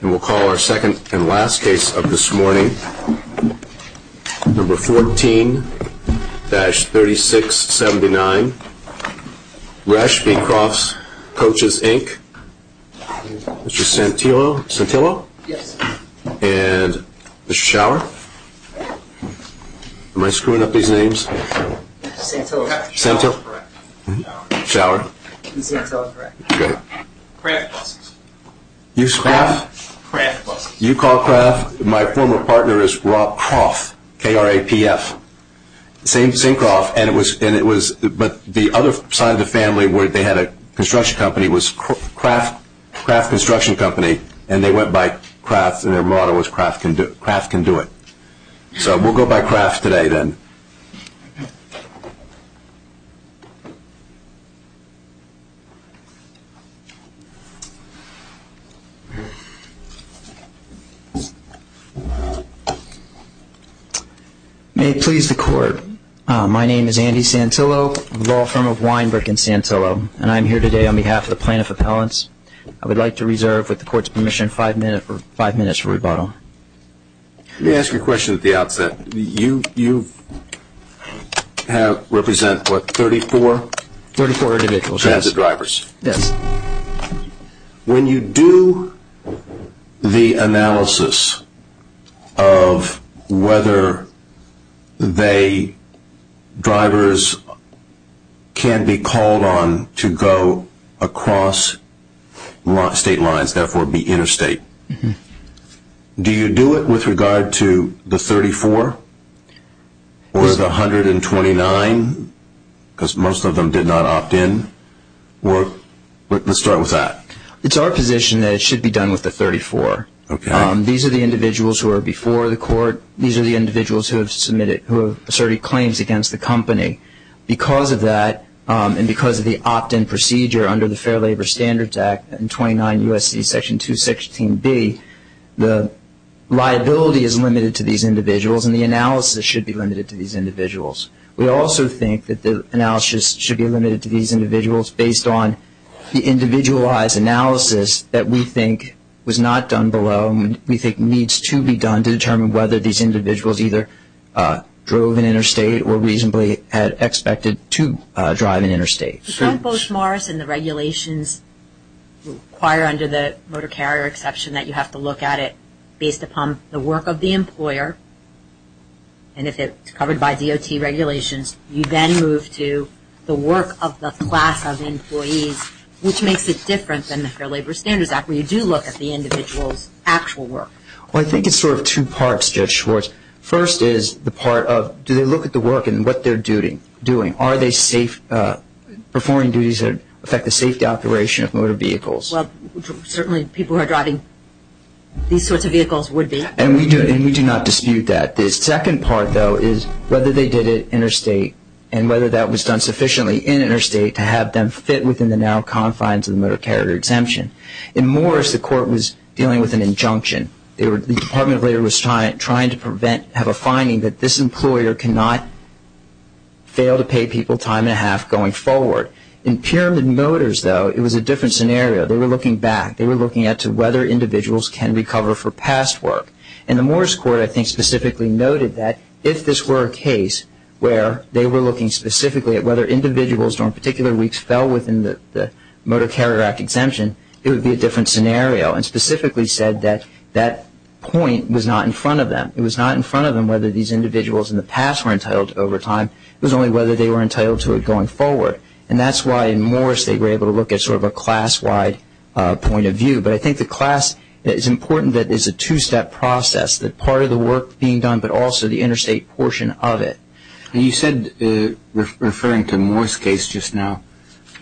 And we'll call our second and last case of this morning, number 14-3679, Resch v. Krapfs Coaches Inc. Mr. Santillo? Santillo? Yes. And Mr. Schauer? Am I screwing up these names? Santillo is correct. Schauer? Santillo is correct. Krapfs Coaches. Krapfs Coaches. You call Krapfs? My former partner is Rob Kroff. K-R-A-P-F. Same Kroff and it was, but the other side of the family where they had a construction company was Krapfs Construction Company and they went by Krapfs and their motto was Krapfs can do it. So we'll go by Krapfs today then. May it please the court, my name is Andy Santillo, law firm of Weinbrick and Santillo and I'm here today on behalf of the plaintiff appellants. I would like to reserve, with the court's permission, five minutes for rebuttal. Let me ask you a question at the outset. You represent what, 34? 34 individuals. Transit drivers. When you do the analysis of whether they, drivers, can be called on to go across state lines, therefore be interstate, do you do it with regard to the 34? Or the 129? Because most of them did not opt in. Let's start with that. It's our position that it should be done with the 34. These are the individuals who are before the court. These are the individuals who have submitted, who have asserted claims against the company. Because of that, and because of the opt-in procedure under the Fair Labor Standards Act and 29 U.S.C. Section 216B, the liability is limited to these individuals and the analysis should be limited to these individuals. We also think that the analysis should be limited to these individuals based on the individualized analysis that we think was not done below and we think needs to be done to determine whether these individuals either drove an interstate or reasonably had expected to drive an interstate. But don't Bush-Morris and the regulations require under the motor carrier exception that you have to look at it based upon the work of the employer, and if it's covered by DOT regulations, you then move to the work of the class of employees, which makes it different than the Fair Labor Standards Act where you do look at the individual's actual work. Well, I think it's sort of two parts, Judge Schwartz. First is the part of, do they look at the work and what they're doing? Are they safe, performing duties that affect the safety operation of motor vehicles? Well, certainly people who are driving these sorts of vehicles would be. And we do not dispute that. The second part, though, is whether they did it interstate and whether that was done sufficiently in interstate to have them fit within the narrow confines of the motor carrier exemption. In Morris, the court was dealing with an injunction. The Department of Labor was trying to have a finding that this employer cannot fail to pay people time and a half going forward. In Pyramid Motors, though, it was a different scenario. They were looking back. They were looking at whether individuals can recover for past work. And the Morris court, I think, specifically noted that if this were a case where they were looking specifically at whether individuals on particular weeks fell within the Motor Carrier Act exemption, it would be a different scenario. And specifically said that that point was not in front of them. It was not in front of them whether these individuals in the past were entitled to overtime. It was only whether they were entitled to it going forward. And that's why in Morris they were able to look at sort of a class-wide point of view. But I think the class is important that it's a two-step process, that part of the work being done, but also the interstate portion of it. And you said, referring to Morris case just now,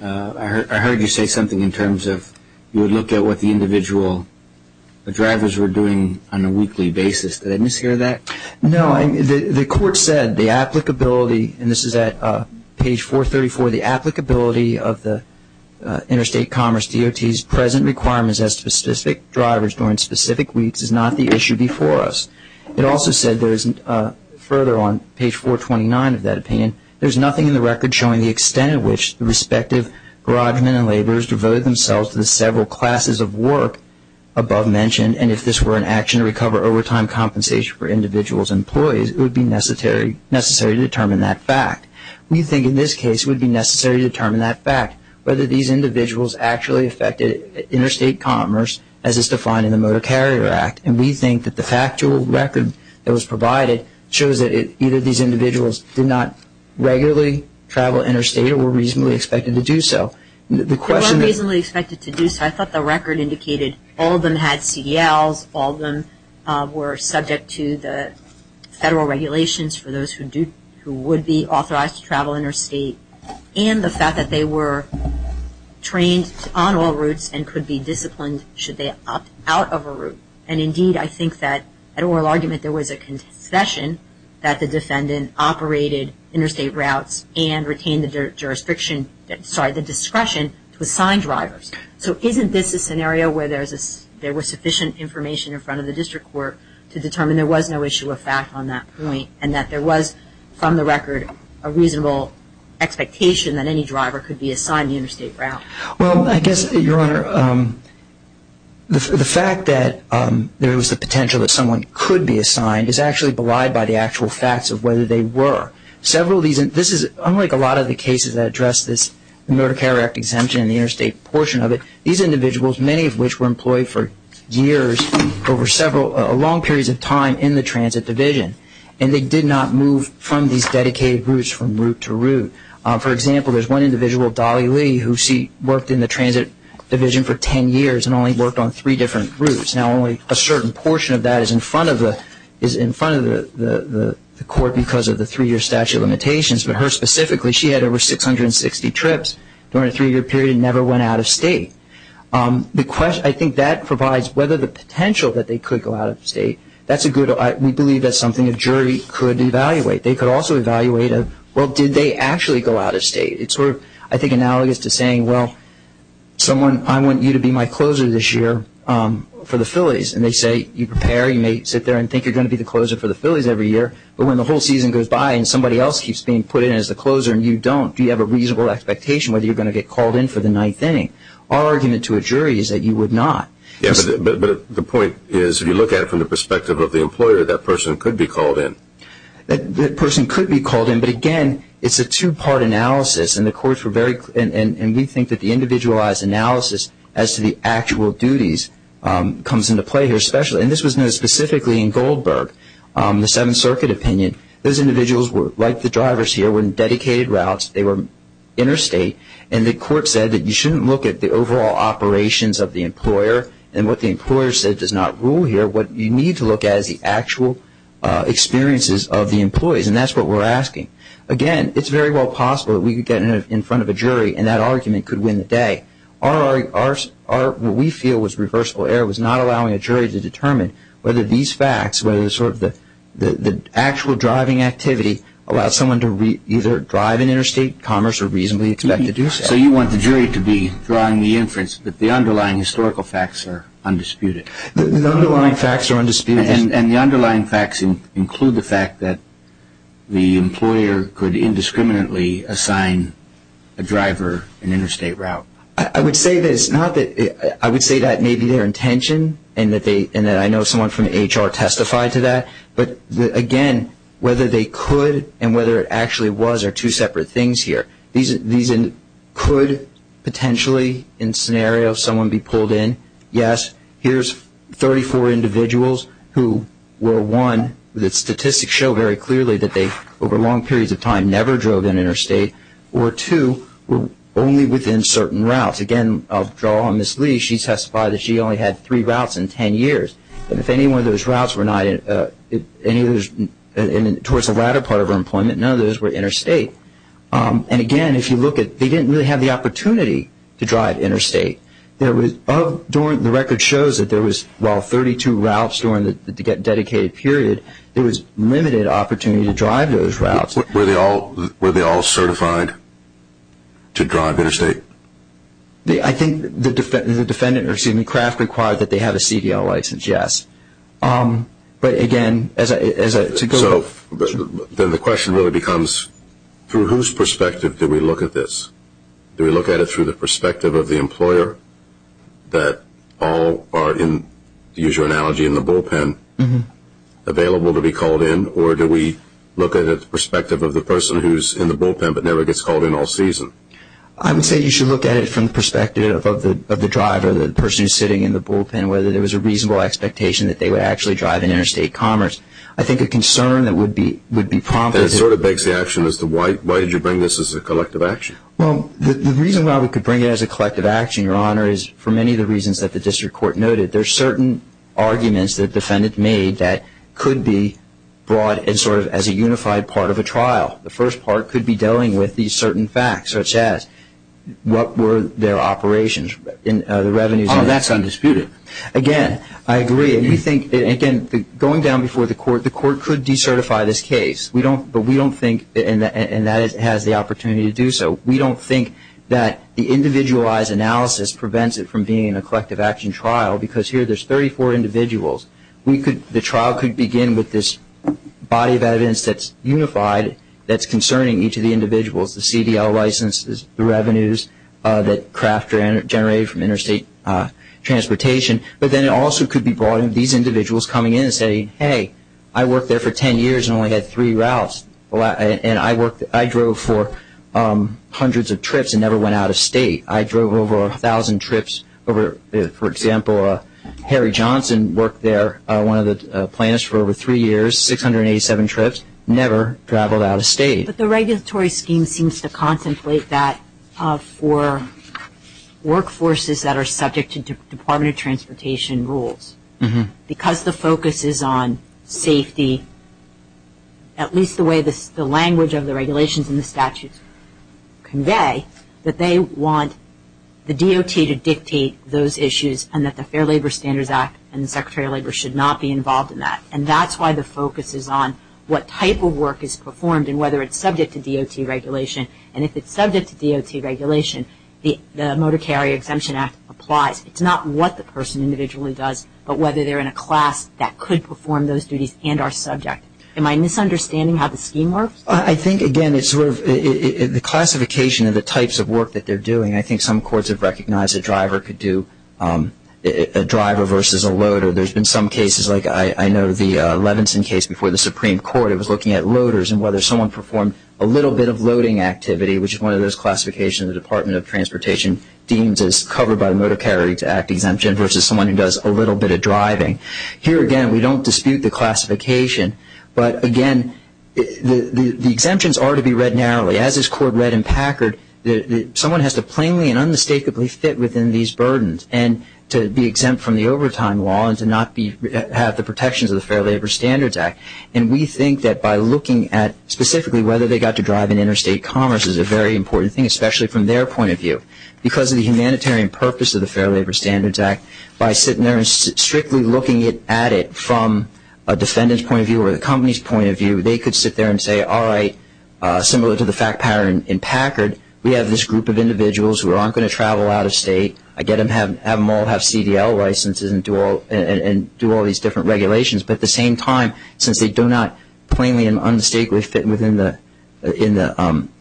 I heard you say something in terms of you would look at what the individual drivers were doing on a weekly basis. Did I mishear that? No. The court said the applicability, and this is at page 434, the applicability of the Interstate Commerce DOT's present requirements as to specific drivers during specific weeks is not the issue before us. It also said further on page 429 of that opinion, there's nothing in the record showing the extent at which the respective garage men and laborers devoted themselves to the several classes of work above mentioned, and if this were an action to recover overtime compensation for individuals and employees, it would be necessary to determine that fact. We think in this case it would be necessary to determine that fact, whether these individuals actually affected interstate commerce as is defined in the Motor Carrier Act. And we think that the factual record that was provided shows that either these individuals did not regularly travel interstate or were reasonably expected to do so. They weren't reasonably expected to do so. I thought the record indicated all of them had CELs, all of them were subject to the federal regulations for those who would be authorized to travel interstate, and the fact that they were trained on all routes and could be disciplined should they opt out of a route. And indeed, I think that at oral argument there was a concession that the defendant operated interstate routes and retained the discretion to assign drivers. So isn't this a scenario where there was sufficient information in front of the district court to determine there was no issue of fact on that point and that there was, from the record, a reasonable expectation that any driver could be assigned the interstate route? Well, I guess, Your Honor, the fact that there was the potential that someone could be assigned is actually belied by the actual facts of whether they were. Unlike a lot of the cases that address this Motor Carrier Act exemption and the interstate portion of it, these individuals, many of which were employed for years over several long periods of time in the transit division, and they did not move from these dedicated routes from route to route. For example, there's one individual, Dolly Lee, who worked in the transit division for 10 years and only worked on three different routes. Now, only a certain portion of that is in front of the court because of the three-year statute of limitations, but her specifically, she had over 660 trips during a three-year period and never went out of state. I think that provides whether the potential that they could go out of state, that's a good, we believe that's something a jury could evaluate. They could also evaluate, well, did they actually go out of state? It's sort of, I think, analogous to saying, well, someone, I want you to be my closer this year for the Phillies. And they say, you prepare, you may sit there and think you're going to be the closer for the Phillies every year, but when the whole season goes by and somebody else keeps being put in as the closer and you don't, do you have a reasonable expectation whether you're going to get called in for the ninth inning? Our argument to a jury is that you would not. But the point is, if you look at it from the perspective of the employer, that person could be called in. That person could be called in, but again, it's a two-part analysis and the courts were very, and we think that the individualized analysis as to the actual duties comes into play here, especially, and this was known specifically in Goldberg, the Seventh Circuit opinion. Those individuals were, like the drivers here, were in dedicated routes. They were interstate and the court said that you shouldn't look at the overall operations of the employer and what the employer said does not rule here. What you need to look at is the actual experiences of the employees and that's what we're asking. Again, it's very well possible that we could get in front of a jury and that argument could win the day. What we feel was reversible error was not allowing a jury to determine whether these facts, whether the actual driving activity allowed someone to either drive in interstate commerce or reasonably expect to do so. So you want the jury to be drawing the inference that the underlying historical facts are undisputed? The underlying facts are undisputed. And the underlying facts include the fact that the employer could indiscriminately assign a driver an interstate route? I would say that it's not that, I would say that maybe their intention and that I know someone from the HR testified to that, but again, whether they could and whether it actually was are two separate things here. These could potentially, in scenario, someone be pulled in. Yes, here's 34 individuals who were, one, the statistics show very clearly that they, over long periods of time, never drove in interstate, or two, were only within certain routes. Again, I'll draw on Ms. Lee. She testified that she only had three routes in 10 years. And if any one of those routes were not towards the latter part of her employment, none of those were interstate. And again, if you look at, they didn't really have the opportunity to drive interstate. There was, the record shows that there was, well, 32 routes during the dedicated period. There was limited opportunity to drive those routes. Were they all certified to drive interstate? I think the defendant, or excuse me, Kraft, required that they have a CDL license, yes. But again, as I, to go back. Then the question really becomes, through whose perspective do we look at this? Do we look at it through the perspective of the employer that all are, to use your analogy, in the bullpen, available to be called in? Or do we look at it through the perspective of the person who's in the bullpen but never gets called in all season? I would say you should look at it from the perspective of the driver, the person who's sitting in the bullpen, whether there was a reasonable expectation that they would actually drive in interstate commerce. I think a concern that would be prompted. And it sort of begs the action as to why did you bring this as a collective action? Well, the reason why we could bring it as a collective action, Your Honor, is for many of the reasons that the district court noted. There's certain arguments that the defendant made that could be brought in sort of as a unified part of a trial. The first part could be dealing with these certain facts, such as what were their operations, the revenues. Oh, that's undisputed. Again, I agree. We think, again, going down before the court, the court could decertify this case. But we don't think, and that has the opportunity to do so, we don't think that the individualized analysis prevents it from being a collective action trial because here there's 34 individuals. The trial could begin with this body of evidence that's unified, that's concerning each of the individuals, the CDL licenses, the revenues that Kraft generated from interstate transportation. But then it also could be brought in these individuals coming in and saying, hey, I worked there for 10 years and only had three routes, and I drove for hundreds of trips and never went out of state. I drove over 1,000 trips. For example, Harry Johnson worked there, one of the planners, for over three years, 687 trips, never traveled out of state. But the regulatory scheme seems to contemplate that for workforces that are subject to Department of Transportation rules. Because the focus is on safety, at least the way the language of the regulations and the statutes convey, that they want the DOT to dictate those issues and that the Fair Labor Standards Act and the Secretary of Labor should not be involved in that. And that's why the focus is on what type of work is performed and whether it's subject to DOT regulation. And if it's subject to DOT regulation, the Motor Carrier Exemption Act applies. It's not what the person individually does, but whether they're in a class that could perform those duties and are subject. Am I misunderstanding how the scheme works? I think, again, it's sort of the classification of the types of work that they're doing. I think some courts have recognized a driver could do a driver versus a loader. There's been some cases, like I know the Levinson case before the Supreme Court. It was looking at loaders and whether someone performed a little bit of loading activity, which is one of those classifications the Department of Transportation deems as covered by the Motor Carrier Exemption Act versus someone who does a little bit of driving. Here, again, we don't dispute the classification. But, again, the exemptions are to be read narrowly. As this Court read in Packard, someone has to plainly and unmistakably fit within these burdens. And to be exempt from the overtime law and to not have the protections of the Fair Labor Standards Act. And we think that by looking at specifically whether they got to drive in interstate commerce is a very important thing, especially from their point of view. Because of the humanitarian purpose of the Fair Labor Standards Act, by sitting there and strictly looking at it from a defendant's point of view or the company's point of view, they could sit there and say, all right, similar to the fact pattern in Packard, we have this group of individuals who aren't going to travel out of state. I get them all to have CDL licenses and do all these different regulations. But at the same time, since they do not plainly and unmistakably fit within the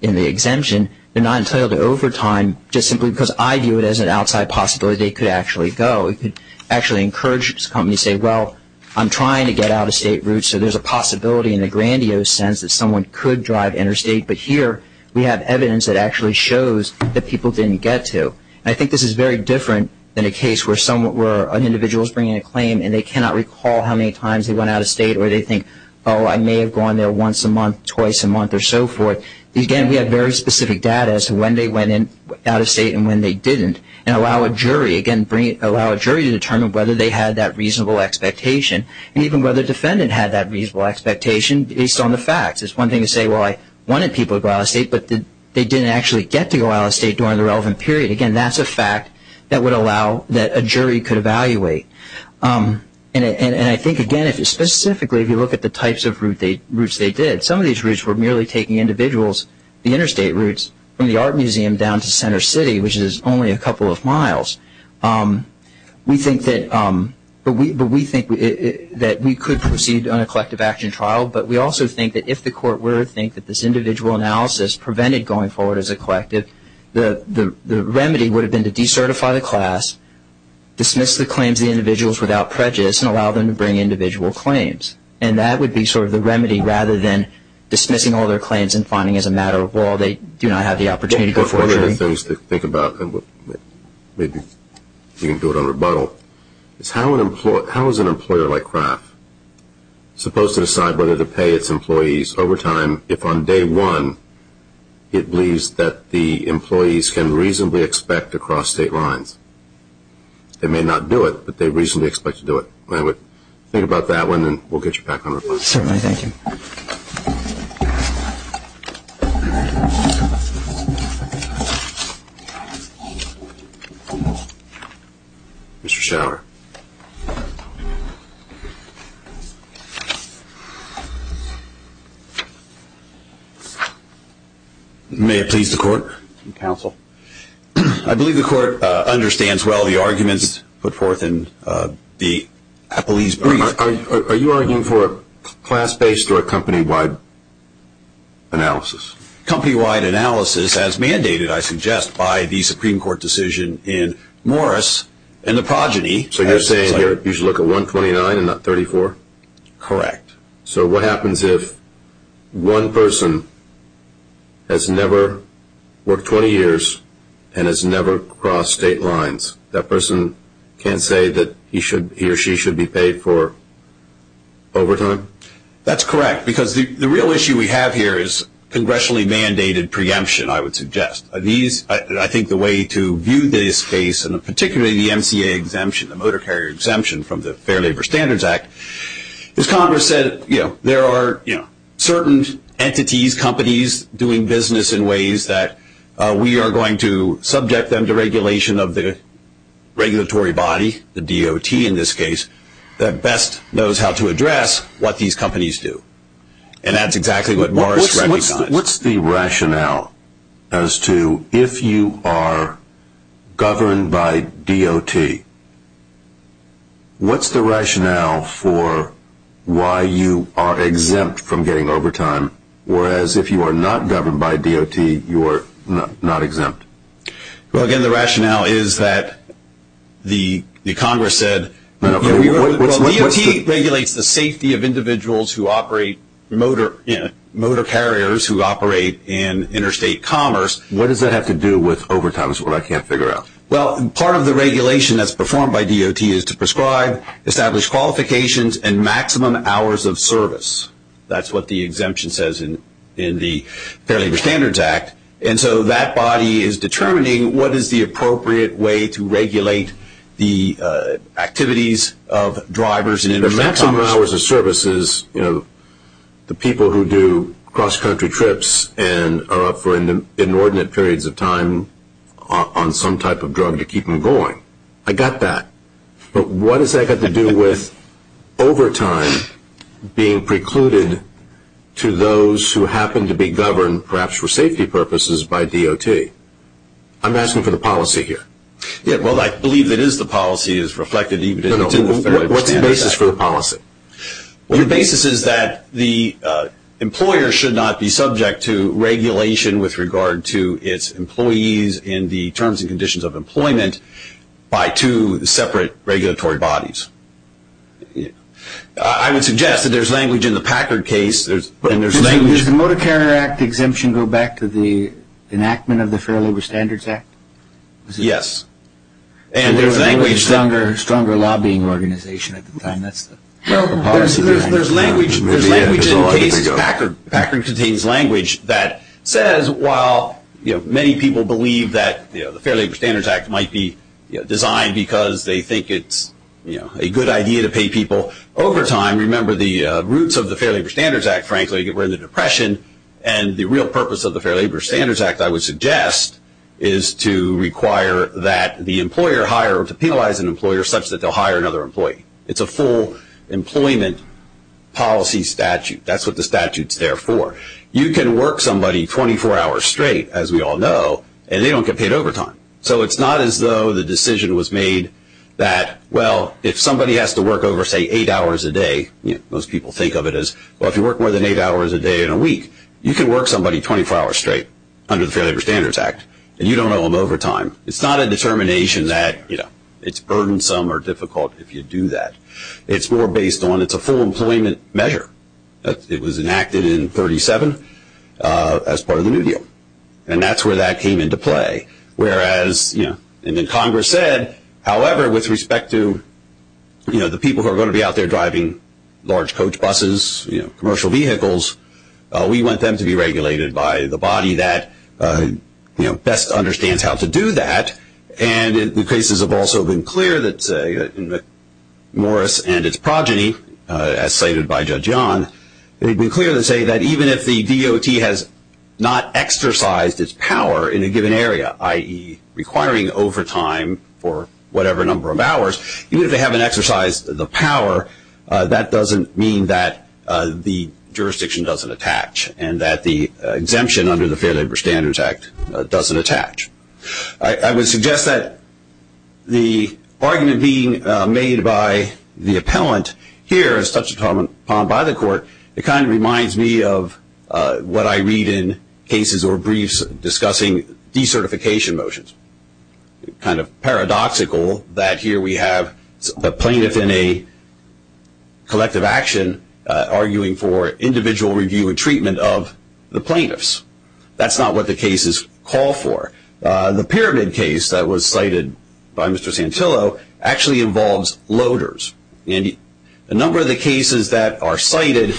exemption, they're not entitled to overtime just simply because I view it as an outside possibility they could actually go. It could actually encourage companies to say, well, I'm trying to get out of state route, so there's a possibility in a grandiose sense that someone could drive interstate. But here we have evidence that actually shows that people didn't get to. I think this is very different than a case where an individual is bringing a claim and they cannot recall how many times they went out of state or they think, oh, I may have gone there once a month, twice a month, or so forth. Again, we have very specific data as to when they went out of state and when they didn't. And allow a jury, again, allow a jury to determine whether they had that reasonable expectation and even whether the defendant had that reasonable expectation based on the facts. It's one thing to say, well, I wanted people to go out of state, but they didn't actually get to go out of state during the relevant period. Again, that's a fact that would allow that a jury could evaluate. And I think, again, specifically if you look at the types of routes they did, some of these routes were merely taking individuals, the interstate routes, from the art museum down to Center City, which is only a couple of miles. We think that we could proceed on a collective action trial, but we also think that if the court were to think that this individual analysis prevented going forward as a collective, the remedy would have been to decertify the class, dismiss the claims of the individuals without prejudice, and allow them to bring individual claims. And that would be sort of the remedy rather than dismissing all their claims and finding as a matter of law they do not have the opportunity to go forward. One of the things to think about, and maybe you can do it on rebuttal, is how is an employer like Kraft supposed to decide whether to pay its employees overtime if on day one it believes that the employees can reasonably expect to cross state lines? They may not do it, but they reasonably expect to do it. I would think about that one, and we'll get you back on rebuttal. Certainly. Thank you. Mr. Schauer. May it please the court. Counsel. I believe the court understands well the arguments put forth in the police brief. Are you arguing for a class-based or a company-wide analysis? Company-wide analysis as mandated, I suggest, by the Supreme Court decision in Morris and the progeny. So you're saying you should look at 129 and not 34? Correct. So what happens if one person has never worked 20 years and has never crossed state lines? That person can't say that he or she should be paid for overtime? That's correct. Because the real issue we have here is congressionally mandated preemption, I would suggest. I think the way to view this case, and particularly the MCA exemption, the motor carrier exemption from the Fair Labor Standards Act, is Congress said there are certain entities, companies, doing business in ways that we are going to subject them to regulation of the regulatory body, the DOT in this case, that best knows how to address what these companies do. And that's exactly what Morris recognizes. What's the rationale as to if you are governed by DOT, what's the rationale for why you are exempt from getting overtime, whereas if you are not governed by DOT, you are not exempt? Well, again, the rationale is that the Congress said DOT regulates the safety of individuals who operate motor carriers who operate in interstate commerce. What does that have to do with overtime? That's what I can't figure out. Well, part of the regulation that's performed by DOT is to prescribe, establish qualifications, and maximum hours of service. That's what the exemption says in the Fair Labor Standards Act. And so that body is determining what is the appropriate way to regulate the activities of drivers in interstate commerce. The maximum hours of service is, you know, the people who do cross-country trips and are up for inordinate periods of time on some type of drug to keep them going. I got that. But what has that got to do with overtime being precluded to those who happen to be governed, perhaps for safety purposes, by DOT? I'm asking for the policy here. Well, I believe it is the policy as reflected even in the Fair Labor Standards Act. What's the basis for the policy? The basis is that the employer should not be subject to regulation with regard to its employees in the terms and conditions of employment by two separate regulatory bodies. I would suggest that there's language in the Packard case. Does the Motor Carrier Act exemption go back to the enactment of the Fair Labor Standards Act? Yes. And there was a stronger lobbying organization at the time. That's the policy behind it. There's language in the case of Packard. Packard contains language that says while many people believe that the Fair Labor Standards Act might be designed because they think it's a good idea to pay people overtime, remember the roots of the Fair Labor Standards Act, frankly, were in the Depression, and the real purpose of the Fair Labor Standards Act, I would suggest, is to require that the employer hire or to penalize an employer such that they'll hire another employee. It's a full employment policy statute. That's what the statute's there for. You can work somebody 24 hours straight, as we all know, and they don't get paid overtime. So it's not as though the decision was made that, well, if somebody has to work over, say, eight hours a day, most people think of it as, well, if you work more than eight hours a day in a week, you can work somebody 24 hours straight under the Fair Labor Standards Act, and you don't owe them overtime. It's not a determination that, you know, it's burdensome or difficult if you do that. It's more based on it's a full employment measure. It was enacted in 37 as part of the New Deal, and that's where that came into play. Whereas, you know, and then Congress said, however, with respect to, you know, the people who are going to be out there driving large coach buses, you know, commercial vehicles, we want them to be regulated by the body that, you know, best understands how to do that. And the cases have also been clear that Morris and its progeny, as cited by Judge Yon, they've been clear to say that even if the DOT has not exercised its power in a given area, i.e., requiring overtime for whatever number of hours, even if they haven't exercised the power, that doesn't mean that the jurisdiction doesn't attach and that the exemption under the Fair Labor Standards Act doesn't attach. I would suggest that the argument being made by the appellant here, as touched upon by the court, it kind of reminds me of what I read in cases or briefs discussing decertification motions. Kind of paradoxical that here we have a plaintiff in a collective action arguing for individual review and treatment of the plaintiffs. That's not what the cases call for. The Pyramid case that was cited by Mr. Santillo actually involves loaders. And a number of the cases that are cited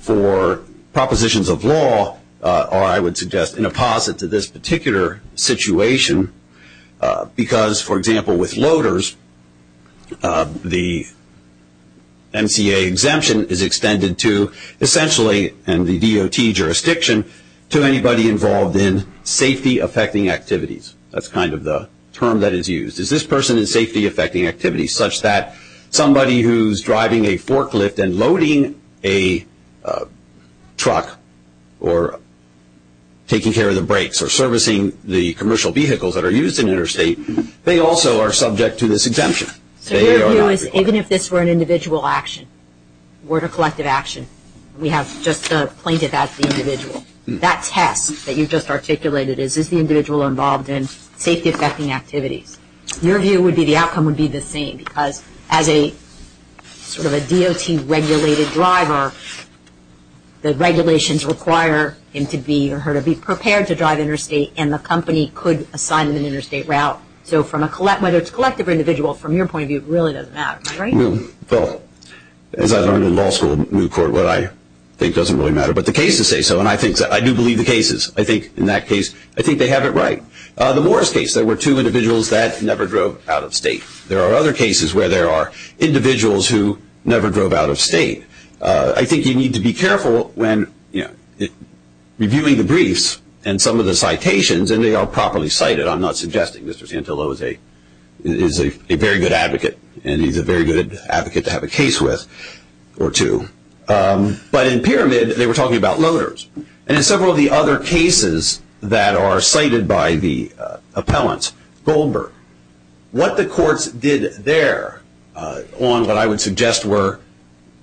for propositions of law are, I would suggest, an opposite to this particular situation because, for example, with loaders, the MCA exemption is extended to essentially, and the DOT jurisdiction, to anybody involved in safety-affecting activities. That's kind of the term that is used. Is this person in safety-affecting activities such that somebody who's driving a forklift and loading a truck or taking care of the brakes or servicing the commercial vehicles that are used in interstate, they also are subject to this exemption? So your view is even if this were an individual action, were it a collective action, we have just the plaintiff as the individual. That test that you just articulated is, is the individual involved in safety-affecting activities? Your view would be the outcome would be the same because as sort of a DOT-regulated driver, the regulations require him to be or her to be prepared to drive interstate and the company could assign an interstate route. So whether it's collective or individual, from your point of view, it really doesn't matter, right? Well, as I learned in law school in Newport, what I think doesn't really matter, but the cases say so. And I do believe the cases. I think in that case, I think they have it right. The Morris case, there were two individuals that never drove out of state. There are other cases where there are individuals who never drove out of state. I think you need to be careful when, you know, reviewing the briefs and some of the citations and they are properly cited. I'm not suggesting Mr. Santillo is a very good advocate and he's a very good advocate to have a case with or two. But in Pyramid, they were talking about loaders. And in several of the other cases that are cited by the appellants, Goldberg, what the courts did there on what I would suggest were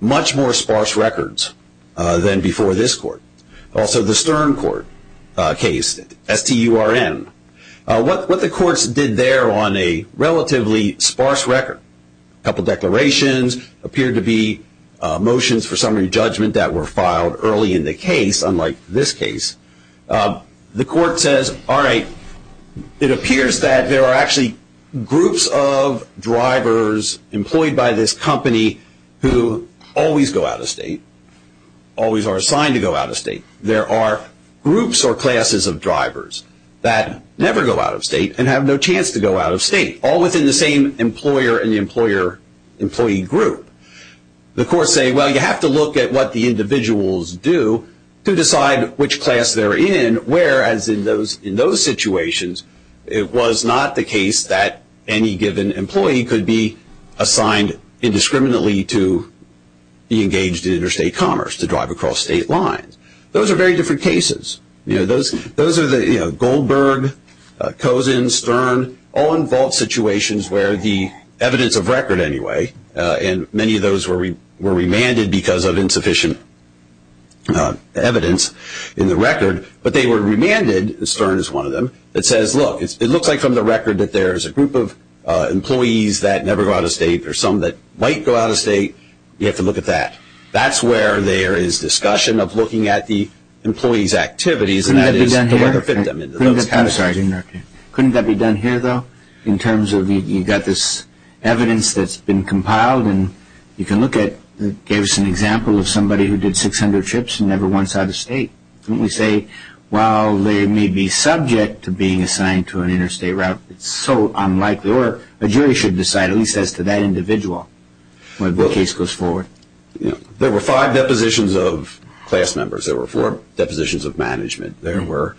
much more sparse records than before this court. Also, the Stern Court case, S-T-U-R-N, what the courts did there on a relatively sparse record, a couple of declarations, appeared to be motions for summary judgment that were filed early in the case, unlike this case. The court says, all right, it appears that there are actually groups of drivers employed by this company who always go out of state, always are assigned to go out of state. There are groups or classes of drivers that never go out of state and have no chance to go out of state, all within the same employer and the employer-employee group. The courts say, well, you have to look at what the individuals do to decide which class they're in, whereas in those situations, it was not the case that any given employee could be assigned indiscriminately to be engaged in interstate commerce, to drive across state lines. Those are very different cases. Those are the Goldberg, Cozen, Stern, all involved situations where the evidence of record anyway, and many of those were remanded because of insufficient evidence in the record, but they were remanded, Stern is one of them, that says, look, it looks like from the record that there's a group of employees that never go out of state or some that might go out of state. You have to look at that. That's where there is discussion of looking at the employees' activities, and that is the way to fit them into those categories. Couldn't that be done here, though, in terms of you've got this evidence that's been compiled and you can look at, it gave us an example of somebody who did 600 trips and never went out of state. Couldn't we say, while they may be subject to being assigned to an interstate route, it's so unlikely, or a jury should decide, at least as to that individual, when the case goes forward. There were five depositions of class members. There were four depositions of management. There were,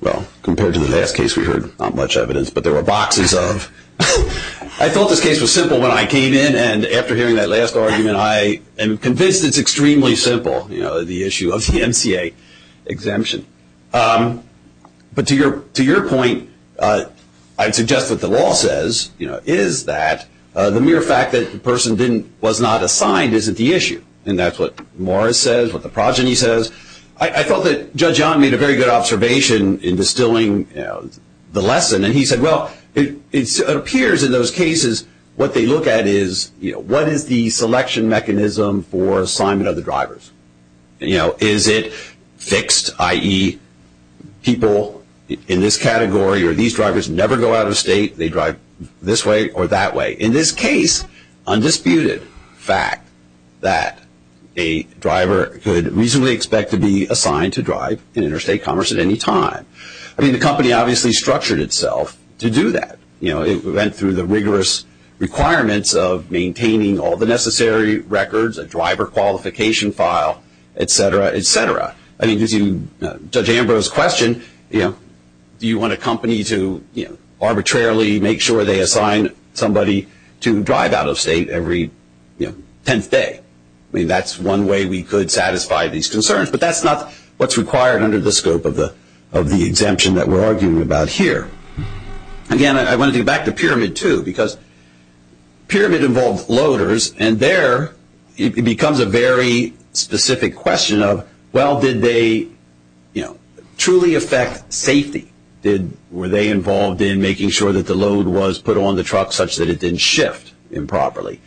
well, compared to the last case we heard, not much evidence, but there were boxes of. I thought this case was simple when I came in, and after hearing that last argument, I am convinced it's extremely simple, the issue of the MCA exemption. But to your point, I'd suggest what the law says is that the mere fact that the person was not assigned isn't the issue, and that's what Morris says, what the progeny says. I felt that Judge Young made a very good observation in distilling the lesson, and he said, well, it appears in those cases what they look at is, you know, what is the selection mechanism for assignment of the drivers? You know, is it fixed, i.e., people in this category or these drivers never go out of state, they drive this way or that way. In this case, undisputed fact that a driver could reasonably expect to be assigned to drive in interstate commerce at any time. I mean, the company obviously structured itself to do that. You know, it went through the rigorous requirements of maintaining all the necessary records, a driver qualification file, et cetera, et cetera. I mean, to Judge Ambrose's question, you know, arbitrarily make sure they assign somebody to drive out of state every, you know, tenth day. I mean, that's one way we could satisfy these concerns, but that's not what's required under the scope of the exemption that we're arguing about here. Again, I want to get back to Pyramid 2, because Pyramid involved loaders, and there it becomes a very specific question of, well, did they, you know, truly affect safety? Did, were they involved in making sure that the load was put on the truck such that it didn't shift improperly?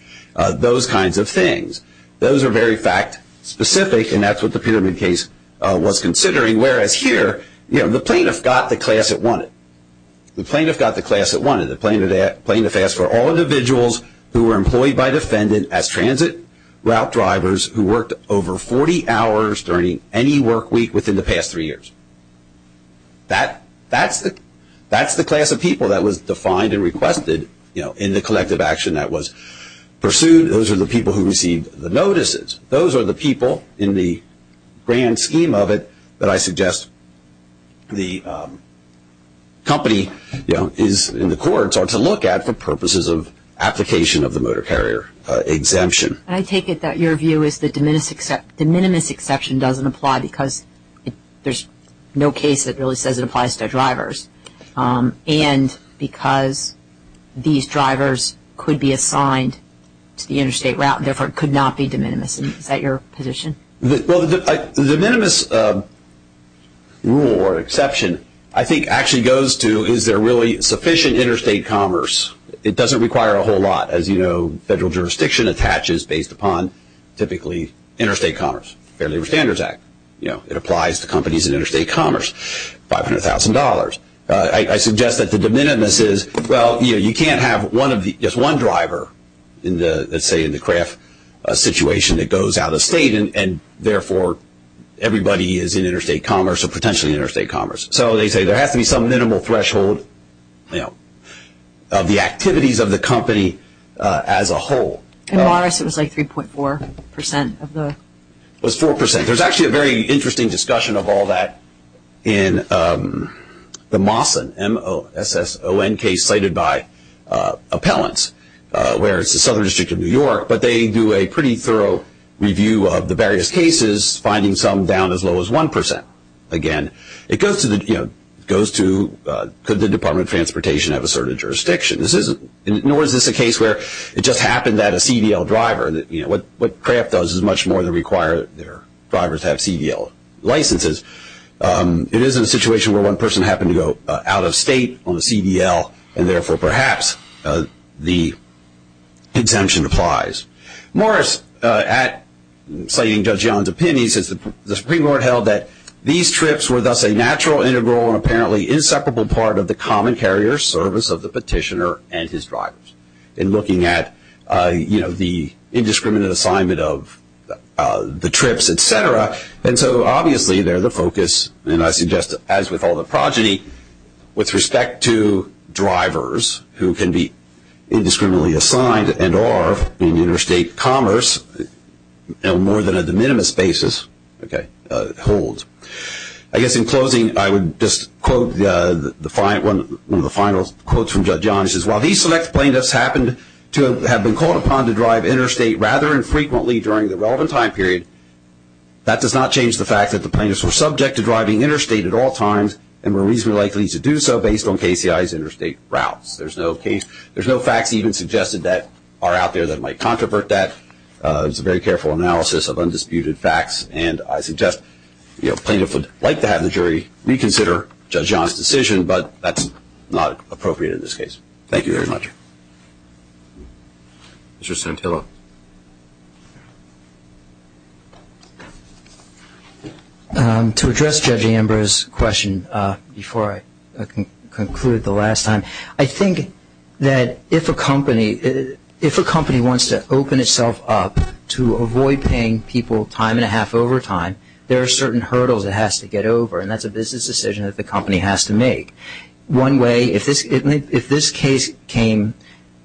Those kinds of things. Those are very fact-specific, and that's what the Pyramid case was considering, whereas here, you know, the plaintiff got the class it wanted. The plaintiff got the class it wanted. The plaintiff asked for all individuals who were employed by defendant as transit route drivers who worked over 40 hours during any work week within the past three years. That's the class of people that was defined and requested, you know, in the collective action that was pursued. Those are the people who received the notices. Those are the people in the grand scheme of it that I suggest the company, you know, is in the courts, or to look at for purposes of application of the motor carrier exemption. I take it that your view is that de minimis exception doesn't apply because there's no case that really says it applies to drivers, and because these drivers could be assigned to the interstate route, and therefore it could not be de minimis. Is that your position? Well, the de minimis rule or exception I think actually goes to, is there really sufficient interstate commerce? It doesn't require a whole lot. As you know, federal jurisdiction attaches based upon typically interstate commerce, Fair Labor Standards Act. You know, it applies to companies in interstate commerce, $500,000. I suggest that the de minimis is, well, you know, you can't have just one driver in the, let's say in the CRAF situation that goes out of state, and therefore everybody is in interstate commerce or potentially interstate commerce. So they say there has to be some minimal threshold, you know, of the activities of the company as a whole. In Morris it was like 3.4% of the. It was 4%. There's actually a very interesting discussion of all that in the MOSSON, M-O-S-S-O-N, case cited by appellants where it's the Southern District of New York, but they do a pretty thorough review of the various cases, finding some down as low as 1%, again. It goes to, you know, it goes to could the Department of Transportation have asserted jurisdiction. Nor is this a case where it just happened that a CDL driver, you know, what CRAF does is much more than require their drivers have CDL licenses. It is a situation where one person happened to go out of state on a CDL, and therefore perhaps the exemption applies. Morris, citing Judge John's opinions, says the Supreme Court held that these trips were thus a natural, integral, and apparently inseparable part of the common carrier service of the petitioner and his drivers. In looking at, you know, the indiscriminate assignment of the trips, et cetera, and so obviously they're the focus, and I suggest as with all the progeny, with respect to drivers who can be indiscriminately assigned and are in interstate commerce on more than a de minimis basis, okay, hold. I guess in closing I would just quote one of the final quotes from Judge John. He says, while these select plaintiffs happened to have been called upon to drive interstate rather infrequently during the relevant time period, that does not change the fact that the plaintiffs were subject to driving interstate at all times and were reasonably likely to do so based on KCI's interstate routes. There's no facts even suggested that are out there that might controvert that. It's a very careful analysis of undisputed facts, and I suggest the plaintiff would like to have the jury reconsider Judge John's decision, but that's not appropriate in this case. Thank you very much. Mr. Santillo. To address Judge Amber's question before I conclude the last time, I think that if a company wants to open itself up to avoid paying people time and a half overtime, there are certain hurdles it has to get over, and that's a business decision that the company has to make. One way, if this case came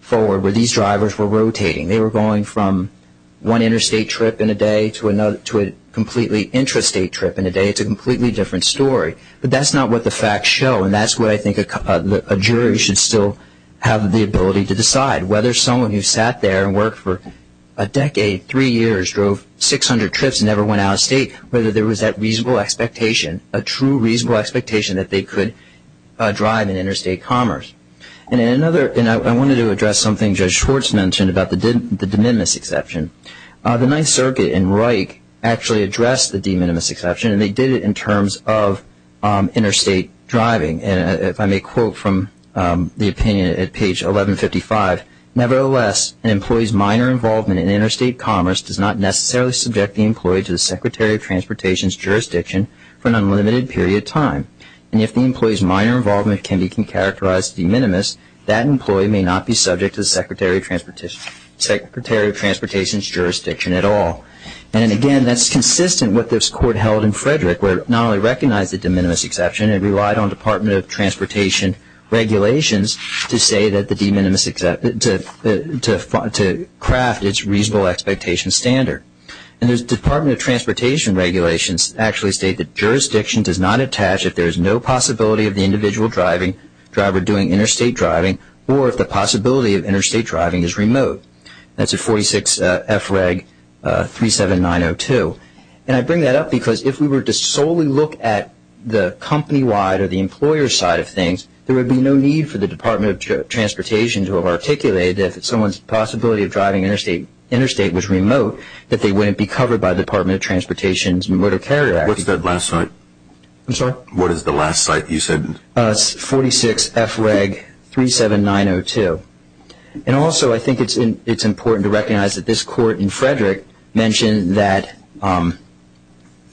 forward where these drivers were rotating, they were going from one interstate trip in a day to a completely intrastate trip in a day, it's a completely different story, but that's not what the facts show, and that's what I think a jury should still have the ability to decide, whether someone who sat there and worked for a decade, three years, drove 600 trips and never went out of state, whether there was that reasonable expectation, a true reasonable expectation that they could drive in interstate commerce. I wanted to address something Judge Schwartz mentioned about the de minimis exception. The Ninth Circuit in Reich actually addressed the de minimis exception, and they did it in terms of interstate driving. If I may quote from the opinion at page 1155, nevertheless an employee's minor involvement in interstate commerce does not necessarily subject the employee to the Secretary of Transportation's jurisdiction for an unlimited period of time, and if the employee's minor involvement can be characterized de minimis, that employee may not be subject to the Secretary of Transportation's jurisdiction at all. And again, that's consistent with what this Court held in Frederick, where it not only recognized the de minimis exception, it relied on Department of Transportation regulations to say that the de minimis, to craft its reasonable expectation standard. And the Department of Transportation regulations actually state that jurisdiction does not attach if there is no possibility of the individual driver doing interstate driving or if the possibility of interstate driving is remote. That's at 46 FREG 37902. And I bring that up because if we were to solely look at the company-wide or the employer side of things, there would be no need for the Department of Transportation to have articulated that if someone's possibility of driving interstate was remote, that they wouldn't be covered by the Department of Transportation's Motor Carrier Act. What's that last site? I'm sorry? What is the last site you said? 46 FREG 37902. And also I think it's important to recognize that this Court in Frederick mentioned that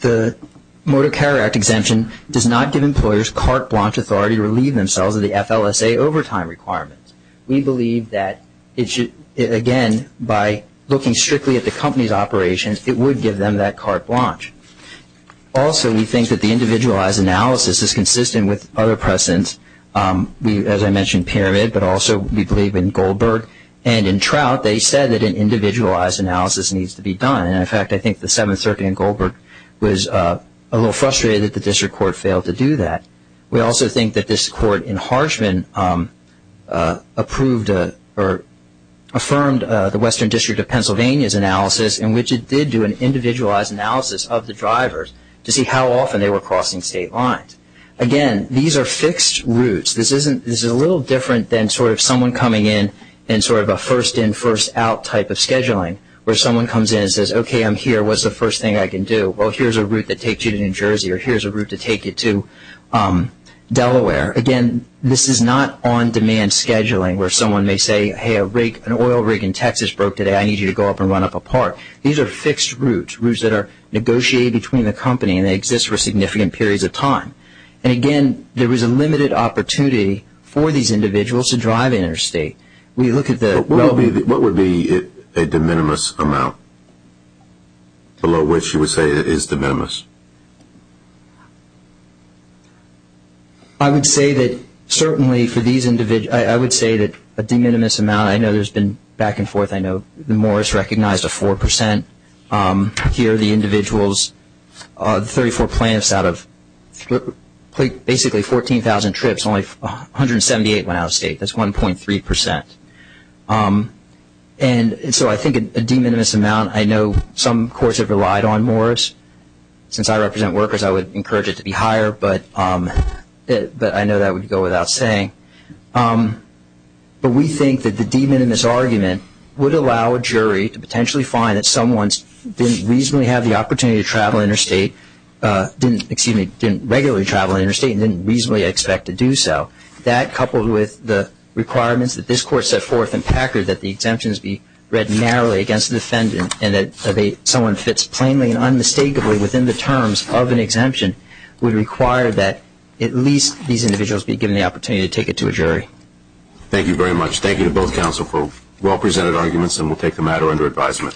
the Motor Carrier Act exemption does not give employers carte blanche authority to relieve themselves of the FLSA overtime requirements. We believe that, again, by looking strictly at the company's operations, it would give them that carte blanche. Also, we think that the individualized analysis is consistent with other precedents. As I mentioned Pyramid, but also we believe in Goldberg and in Trout, they said that an individualized analysis needs to be done. And, in fact, I think the Seventh Circuit in Goldberg was a little frustrated that the district court failed to do that. We also think that this Court in Harshman approved or affirmed the Western District of Pennsylvania's analysis, in which it did do an individualized analysis of the drivers to see how often they were crossing state lines. Again, these are fixed routes. This is a little different than sort of someone coming in and sort of a first-in, first-out type of scheduling, where someone comes in and says, okay, I'm here, what's the first thing I can do? Well, here's a route that takes you to New Jersey, or here's a route to take you to Delaware. Again, this is not on-demand scheduling, where someone may say, hey, an oil rig in Texas broke today. I need you to go up and run up a part. These are fixed routes, routes that are negotiated between the company, and they exist for significant periods of time. And, again, there is a limited opportunity for these individuals to drive interstate. What would be a de minimis amount, below which you would say it is de minimis? I would say that certainly for these individuals, I would say that a de minimis amount, I know there's been back and forth. I know Morris recognized a 4%. Here, the individuals, 34 plaintiffs out of basically 14,000 trips, only 178 went out of state. That's 1.3%. And so I think a de minimis amount, I know some courts have relied on Morris. Since I represent workers, I would encourage it to be higher, but I know that would go without saying. But we think that the de minimis argument would allow a jury to potentially find that someone didn't reasonably have the opportunity to travel interstate, didn't regularly travel interstate and didn't reasonably expect to do so. That, coupled with the requirements that this Court set forth in Packard, that the exemptions be read narrowly against the defendant and that someone fits plainly and unmistakably within the terms of an exemption, would require that at least these individuals be given the opportunity to take it to a jury. Thank you very much. Thank you to both counsel for well-presented arguments, and we'll take the matter under advisement.